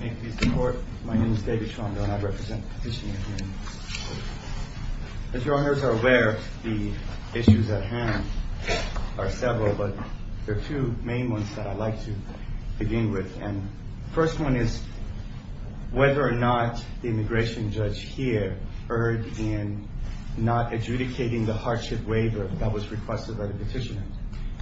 May it please the court, my name is David Tromdo and I represent the petitioner here in this court. As your honors are aware, the issues at hand are several, but there are two main ones that I'd like to begin with. And the first one is whether or not the immigration judge here erred in not adjudicating the hardship waiver that was requested by the petitioner.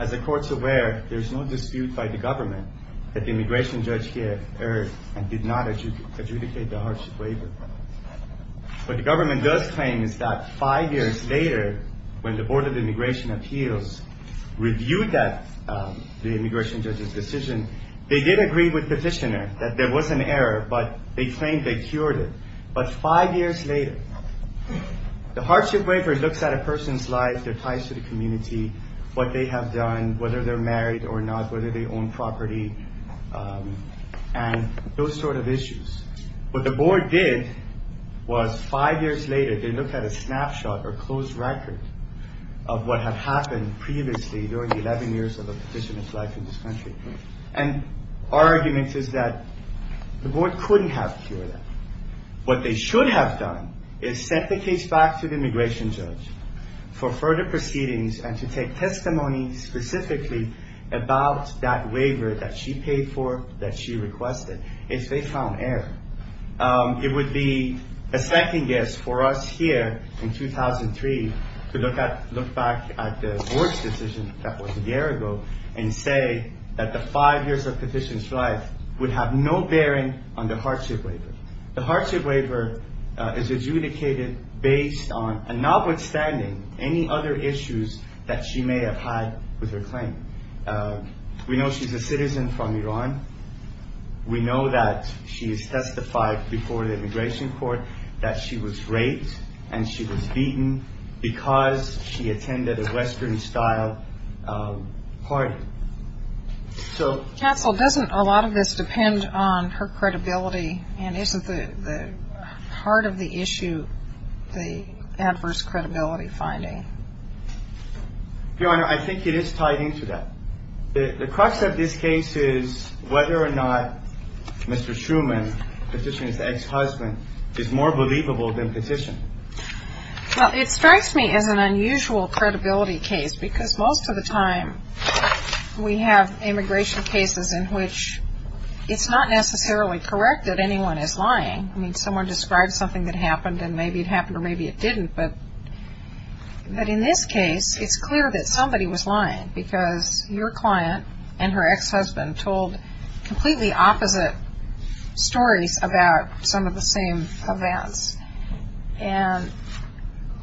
As the court is aware, there is no dispute by the government that the immigration judge here erred and did not adjudicate the hardship waiver. What the government does claim is that five years later, when the Board of Immigration Appeals reviewed the immigration judge's decision, they did agree with the petitioner that there was an error, but they claimed they cured it. But five years later, the hardship waiver looks at a person's life, their ties to the community, what they have done, whether they're married or not, whether they own property, and those sort of issues. What the board did was five years later, they looked at a snapshot or closed record of what had happened previously during the 11 years of a petitioner's life in this country. And our argument is that the board couldn't have cured that. What they should have done is sent the case back to the immigration judge for further proceedings and to take testimony specifically about that waiver that she paid for, that she requested. If they found error, it would be a second guess for us here in 2003 to look back at the board's decision that was a year ago and say that the five years of the petitioner's life would have no bearing on the hardship waiver. The hardship waiver is adjudicated based on, and notwithstanding, any other issues that she may have had with her claim. We know she's a citizen from Iran. We know that she has testified before the immigration court that she was raped and she was beaten because she attended a Western-style party. Counsel, doesn't a lot of this depend on her credibility, and isn't the heart of the issue the adverse credibility finding? Your Honor, I think it is tied into that. The crux of this case is whether or not Mr. Shuman, the petitioner's ex-husband, is more believable than petitioned. Well, it strikes me as an unusual credibility case because most of the time we have immigration cases in which it's not necessarily correct that anyone is lying. I mean, someone described something that happened and maybe it happened or maybe it didn't. But in this case, it's clear that somebody was lying because your client and her ex-husband told completely opposite stories about some of the same events. And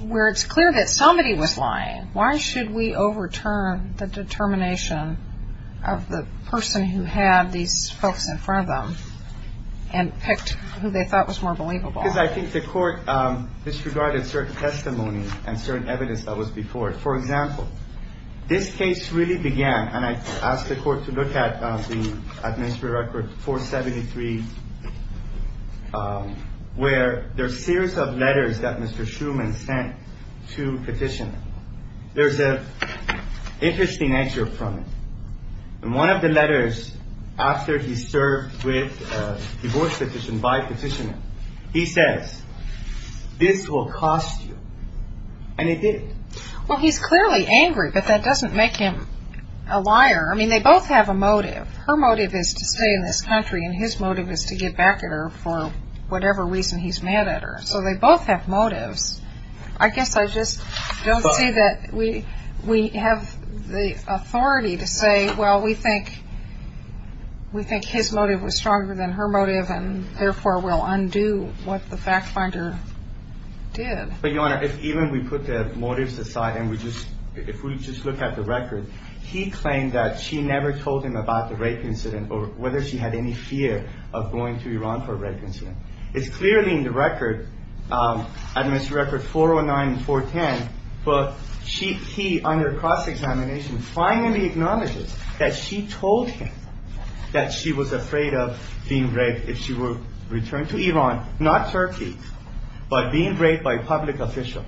where it's clear that somebody was lying, why should we overturn the determination of the person who had these folks in front of them and picked who they thought was more believable? Because I think the court disregarded certain testimony and certain evidence that was before it. For example, this case really began, and I asked the court to look at the administrative record 473, where there's a series of letters that Mr. Shuman sent to petitioners. There's an interesting excerpt from it. In one of the letters, after he served with a divorce petition by petitioner, he says, this will cost you, and it didn't. Well, he's clearly angry, but that doesn't make him a liar. I mean, they both have a motive. Her motive is to stay in this country, and his motive is to get back at her for whatever reason he's mad at her. So they both have motives. I guess I just don't see that we have the authority to say, well, we think his motive was stronger than her motive, and therefore we'll undo what the fact finder did. But, Your Honor, if even we put the motives aside and we just look at the record, he claimed that she never told him about the rape incident or whether she had any fear of going to Iran for a rape incident. It's clearly in the record, in Mr. Record 409 and 410, but he, under cross-examination, finally acknowledges that she told him that she was afraid of being raped if she were returned to Iran, not Turkey, but being raped by a public official.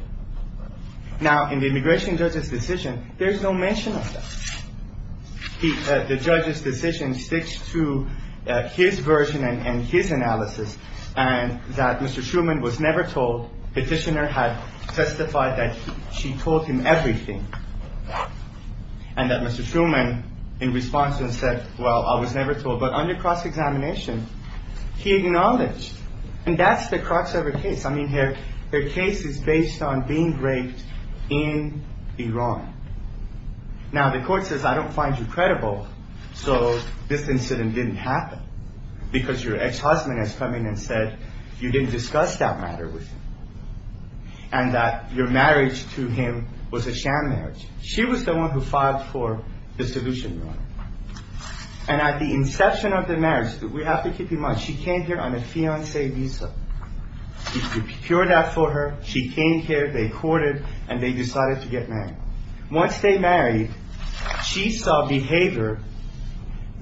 Now, in the immigration judge's decision, there's no mention of that. The judge's decision sticks to his version and his analysis, and that Mr. Truman was never told. Petitioner had testified that she told him everything, and that Mr. Truman, in response, said, well, I was never told. But under cross-examination, he acknowledged, and that's the crux of the case. I mean, her case is based on being raped in Iran. Now, the court says, I don't find you credible, so this incident didn't happen, because your ex-husband has come in and said you didn't discuss that matter with him, and that your marriage to him was a sham marriage. She was the one who filed for the solution. And at the inception of the marriage, we have to keep in mind, she came here on a fiancé visa. He procured that for her, she came here, they courted, and they decided to get married. Once they married, she saw behavior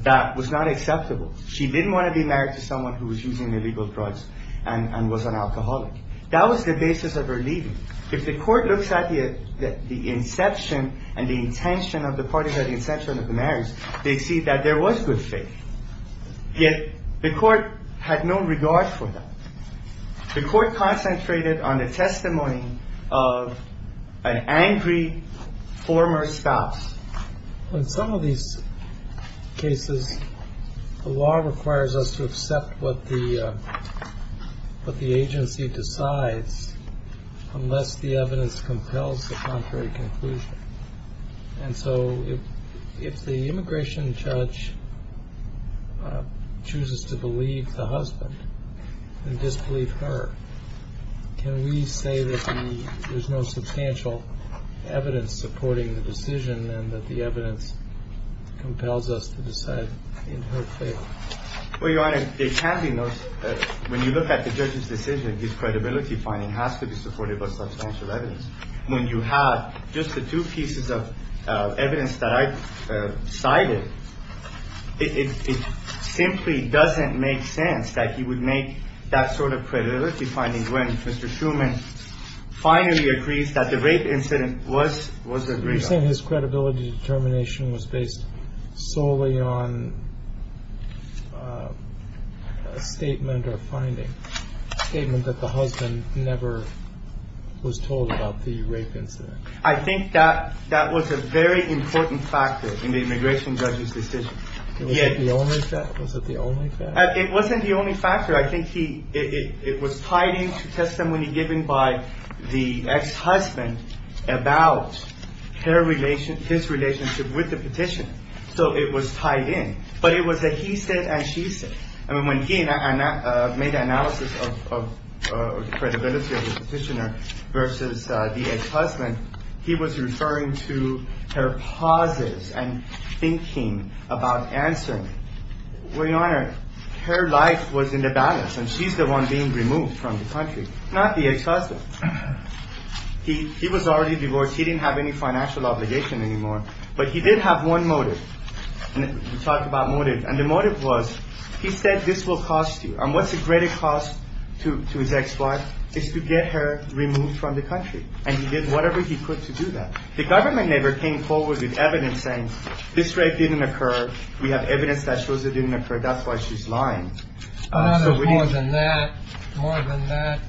that was not acceptable. She didn't want to be married to someone who was using illegal drugs and was an alcoholic. That was the basis of her leaving. If the court looks at the inception and the intention of the party, the inception of the marriage, they see that there was good faith. Yet the court had no regard for that. The court concentrated on the testimony of an angry former spouse. In some of these cases, the law requires us to accept what the agency decides unless the evidence compels the contrary conclusion. And so if the immigration judge chooses to believe the husband and disbelieve her, can we say that there's no substantial evidence supporting the decision and that the evidence compels us to decide in her favor? Well, Your Honor, it can be noticed that when you look at the judge's decision, his credibility finding has to be supported by substantial evidence. When you have just the two pieces of evidence that I cited, it simply doesn't make sense that he would make that sort of credibility finding when Mr. Shuman finally agrees that the rape incident was agreed on. You're saying his credibility determination was based solely on a statement or finding, a statement that the husband never was told about the rape incident? I think that was a very important factor in the immigration judge's decision. Was it the only factor? It wasn't the only factor. I think it was tied into testimony given by the ex-husband about his relationship with the petitioner, so it was tied in. But it was a he said and she said. When he made the analysis of the credibility of the petitioner versus the ex-husband, he was referring to her pauses and thinking about answering. Well, Your Honor, her life was in the balance, and she's the one being removed from the country, not the ex-husband. He was already divorced. He didn't have any financial obligation anymore, but he did have one motive. We talked about motive, and the motive was he said this will cost you, and what's a greater cost to his ex-wife is to get her removed from the country, and he did whatever he could to do that. The government never came forward with evidence saying this rape didn't occur. We have evidence that shows it didn't occur. That's why she's lying. More than that,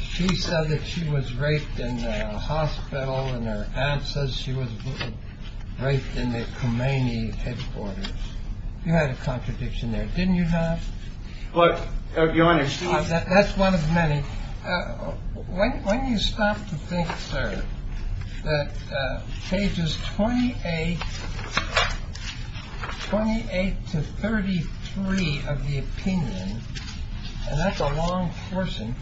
she said that she was raped in the hospital, and her aunt says she was raped in the Khomeini headquarters. You had a contradiction there, didn't you, Hans? But, Your Honor, she... That's one of many. When you stop to think, sir, that pages 28 to 33 of the opinion, and that's a long portion,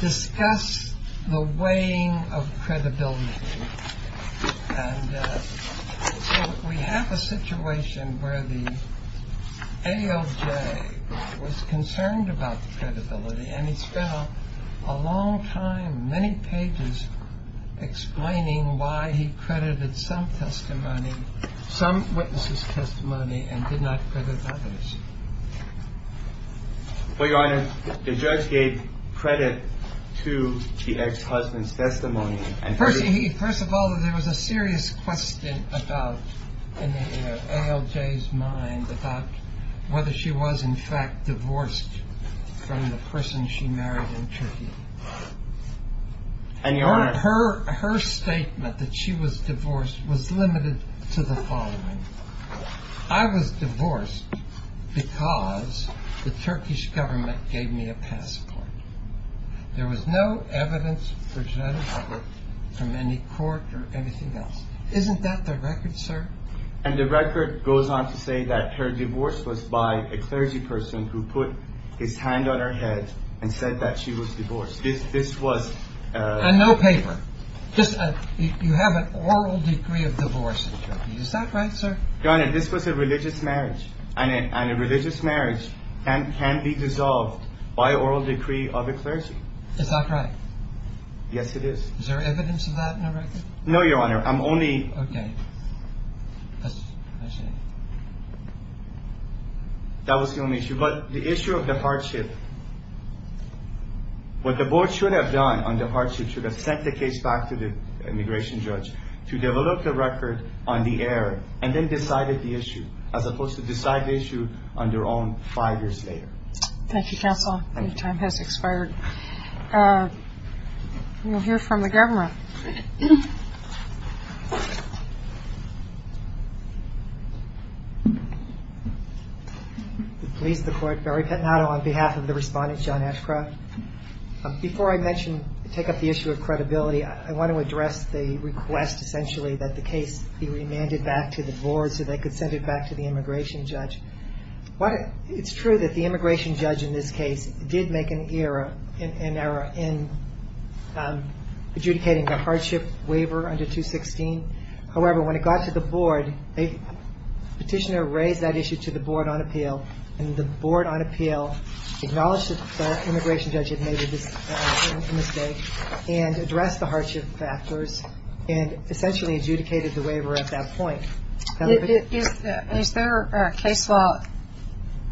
discuss the weighing of credibility, and so we have a situation where the AOJ was concerned about the credibility, and he spent a long time, many pages, explaining why he credited some testimony, some witnesses' testimony, and did not credit others. Well, Your Honor, the judge gave credit to the ex-husband's testimony. First of all, there was a serious question about, in the AOJ's mind, about whether she was, in fact, divorced from the person she married in Turkey. And, Your Honor... Her statement that she was divorced was limited to the following. I was divorced because the Turkish government gave me a passport. There was no evidence presented to me from any court or anything else. Isn't that the record, sir? And the record goes on to say that her divorce was by a clergy person who put his hand on her head and said that she was divorced. This was... And no paper. You have an oral decree of divorce in Turkey. Is that right, sir? Your Honor, this was a religious marriage, and a religious marriage can be dissolved by oral decree of a clergy. Is that right? Yes, it is. Is there evidence of that in the record? No, Your Honor. I'm only... Okay. Question. That was the only issue. But the issue of the hardship... What the board should have done on the hardship should have sent the case back to the immigration judge to develop the record on the air and then decided the issue, as opposed to decide the issue on their own five years later. Thank you, counsel. Thank you. Your time has expired. We'll hear from the government. Please, the court. Barry Pettinato on behalf of the respondent, John Ashcroft. Before I take up the issue of credibility, I want to address the request, essentially, that the case be remanded back to the board so they could send it back to the immigration judge. It's true that the immigration judge in this case did make an error in adjudicating the hardship waiver under 216. However, when it got to the board, the petitioner raised that issue to the board on appeal, and the board on appeal acknowledged that the immigration judge had made a mistake and addressed the hardship factors and essentially adjudicated the waiver at that point. Is there a case law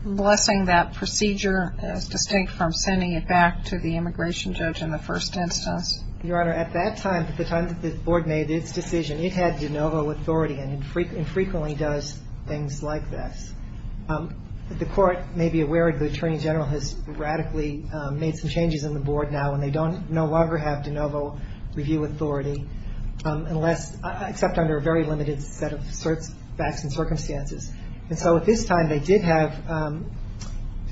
blessing that procedure as distinct from sending it back to the immigration judge in the first instance? Your Honor, at that time, at the time that the board made its decision, it had de novo authority and frequently does things like this. The court may be aware the attorney general has radically made some changes in the board now and they no longer have de novo review authority, except under a very limited set of facts and circumstances. And so at this time, they did have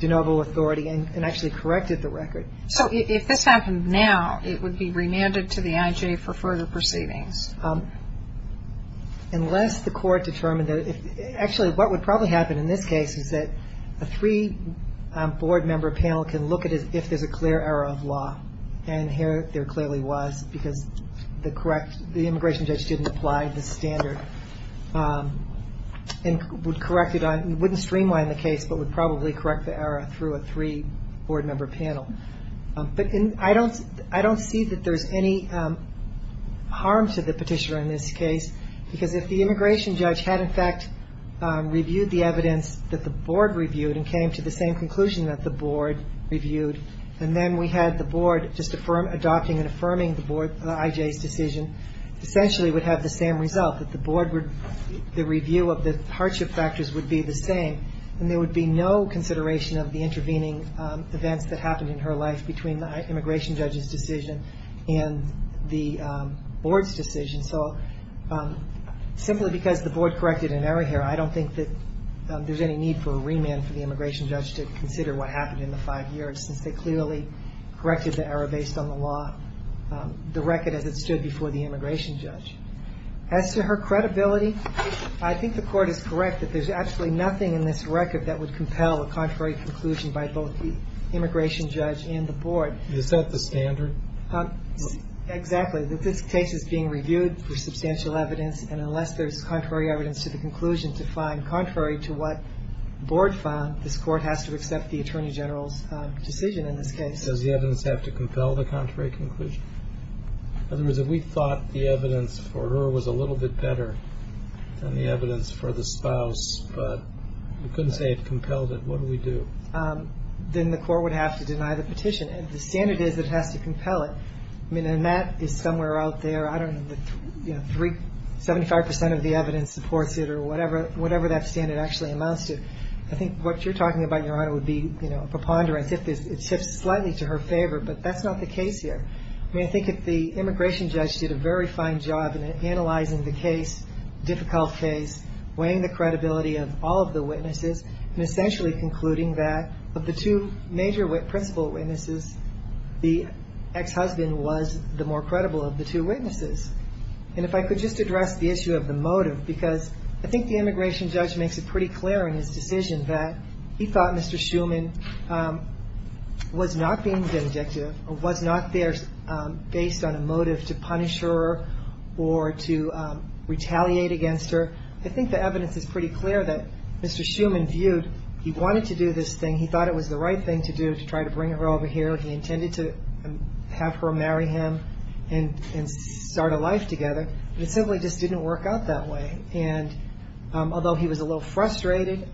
de novo authority and actually corrected the record. So if this happened now, it would be remanded to the IJ for further proceedings? Unless the court determined that, actually what would probably happen in this case is that a three-board member panel can look at it if there's a clear error of law. And here there clearly was because the correct, the immigration judge didn't apply the standard and would correct it on, wouldn't streamline the case, but would probably correct the error through a three-board member panel. But I don't see that there's any harm to the petitioner in this case because if the immigration judge had in fact reviewed the evidence that the board reviewed and came to the same conclusion that the board reviewed and then we had the board just adopting and affirming the board, the IJ's decision, essentially would have the same result, that the board would, the review of the hardship factors would be the same and there would be no consideration of the intervening events that happened in her life between the immigration judge's decision and the board's decision. So simply because the board corrected an error here, I don't think that there's any need for a remand for the immigration judge to consider what happened in the five years since they clearly corrected the error based on the law, the record as it stood before the immigration judge. As to her credibility, I think the court is correct that there's actually nothing in this record that would compel a contrary conclusion by both the immigration judge and the board. Is that the standard? Exactly. This case is being reviewed for substantial evidence and unless there's contrary evidence to the conclusion to find, contrary to what board found, this court has to accept the attorney general's decision in this case. Does the evidence have to compel the contrary conclusion? In other words, if we thought the evidence for her was a little bit better than the evidence for the spouse, but we couldn't say it compelled it, what do we do? Then the court would have to deny the petition and if the standard is that it has to compel it, I mean, and that is somewhere out there, I don't know, 75% of the evidence supports it or whatever that standard actually amounts to. I think what you're talking about, Your Honor, would be a preponderance. It shifts slightly to her favor, but that's not the case here. I mean, I think if the immigration judge did a very fine job in analyzing the case, difficult case, weighing the credibility of all of the witnesses and essentially concluding that of the two major principal witnesses, the ex-husband was the more credible of the two witnesses. And if I could just address the issue of the motive, because I think the immigration judge makes it pretty clear in his decision that he thought Mr. Schuman was not being vindictive or was not there based on a motive to punish her or to retaliate against her. I think the evidence is pretty clear that Mr. Schuman viewed, he wanted to do this thing, he thought it was the right thing to do to try to bring her over here, he intended to have her marry him and start a life together, but it simply just didn't work out that way. And although he was a little frustrated,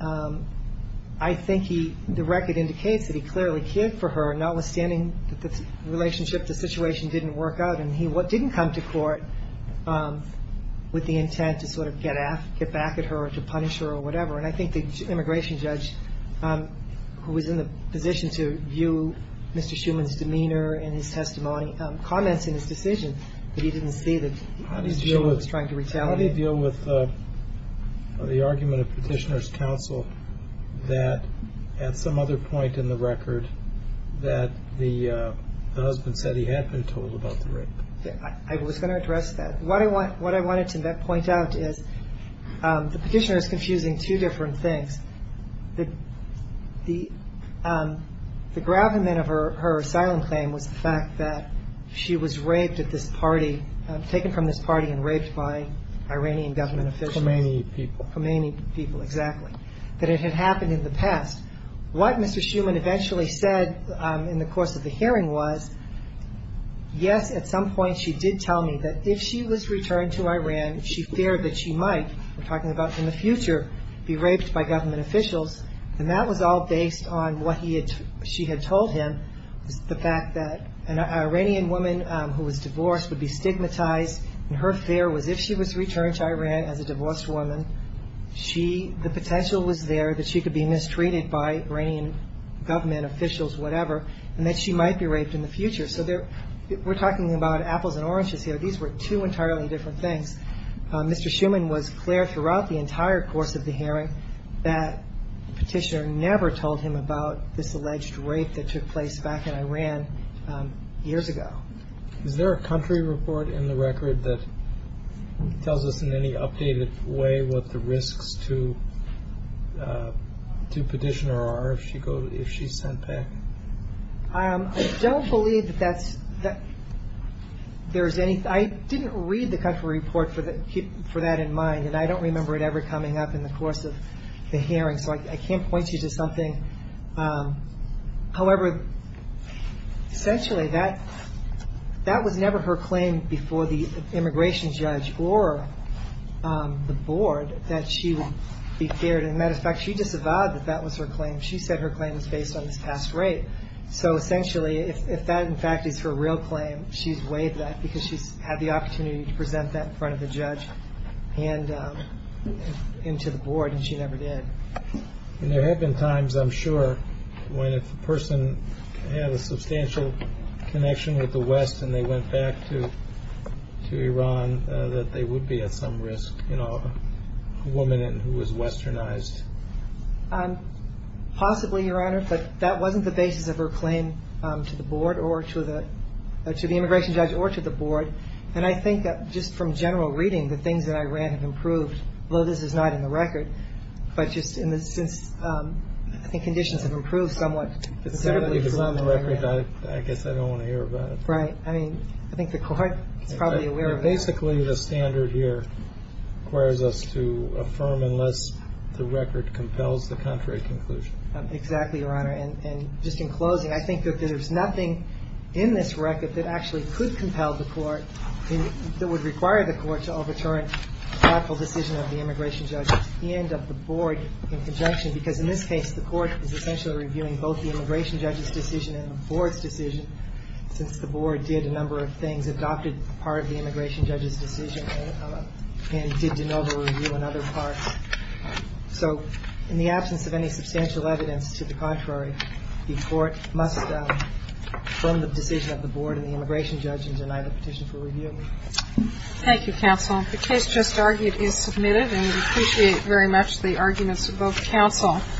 I think the record indicates that he clearly cared for her, notwithstanding that the relationship, the situation didn't work out, and he didn't come to court with the intent to sort of get back at her or to punish her or whatever. And I think the immigration judge, who was in the position to view Mr. Schuman's demeanor and his testimony, comments in his decision that he didn't see that Mr. Schuman was trying to retaliate. How do you deal with the argument of Petitioner's counsel that at some other point in the record that the husband said he had been told about the rape? I was going to address that. What I wanted to point out is the Petitioner is confusing two different things. The gravamen of her asylum claim was the fact that she was raped at this party, taken from this party and raped by Iranian government officials. Khomeini people. Khomeini people, exactly, that it had happened in the past. What Mr. Schuman eventually said in the course of the hearing was, yes, at some point she did tell me that if she was returned to Iran, she feared that she might, we're talking about in the future, be raped by government officials. And that was all based on what she had told him, the fact that an Iranian woman who was divorced would be stigmatized, and her fear was if she was returned to Iran as a divorced woman, the potential was there that she could be mistreated by Iranian government officials, whatever, and that she might be raped in the future. So we're talking about apples and oranges here. These were two entirely different things. Mr. Schuman was clear throughout the entire course of the hearing that the Petitioner never told him about this alleged rape that took place back in Iran years ago. Is there a country report in the record that tells us in any updated way what the risks to Petitioner are if she's sent back? I don't believe that there's any. I didn't read the country report for that in mind, and I don't remember it ever coming up in the course of the hearing, so I can't point you to something. However, essentially that was never her claim before the immigration judge or the board that she would be feared. As a matter of fact, she disavowed that that was her claim. She said her claim was based on this past rape. So essentially, if that in fact is her real claim, she's waived that because she's had the opportunity to present that in front of the judge and to the board, and she never did. There have been times, I'm sure, when if a person had a substantial connection with the West and they went back to Iran that they would be at some risk, you know, a woman who was westernized. Possibly, Your Honor, but that wasn't the basis of her claim to the board or to the immigration judge or to the board. And I think that just from general reading, the things that I read have improved, although this is not in the record, but just in the sense I think conditions have improved somewhat. It's not on the record. I guess I don't want to hear about it. Right. I mean, I think the court is probably aware of that. But basically, the standard here requires us to affirm unless the record compels the contrary conclusion. Exactly, Your Honor. And just in closing, I think that there's nothing in this record that actually could compel the court, that would require the court to overturn a thoughtful decision of the immigration judge and of the board in conjunction, because in this case, the court is essentially reviewing both the immigration judge's decision and the board's decision, since the board did a number of things, adopted part of the immigration judge's decision, and did de novo review on other parts. So in the absence of any substantial evidence to the contrary, the court must affirm the decision of the board and the immigration judge and deny the petition for review. Thank you, counsel. The case just argued is submitted, and we appreciate very much the arguments of both counsel.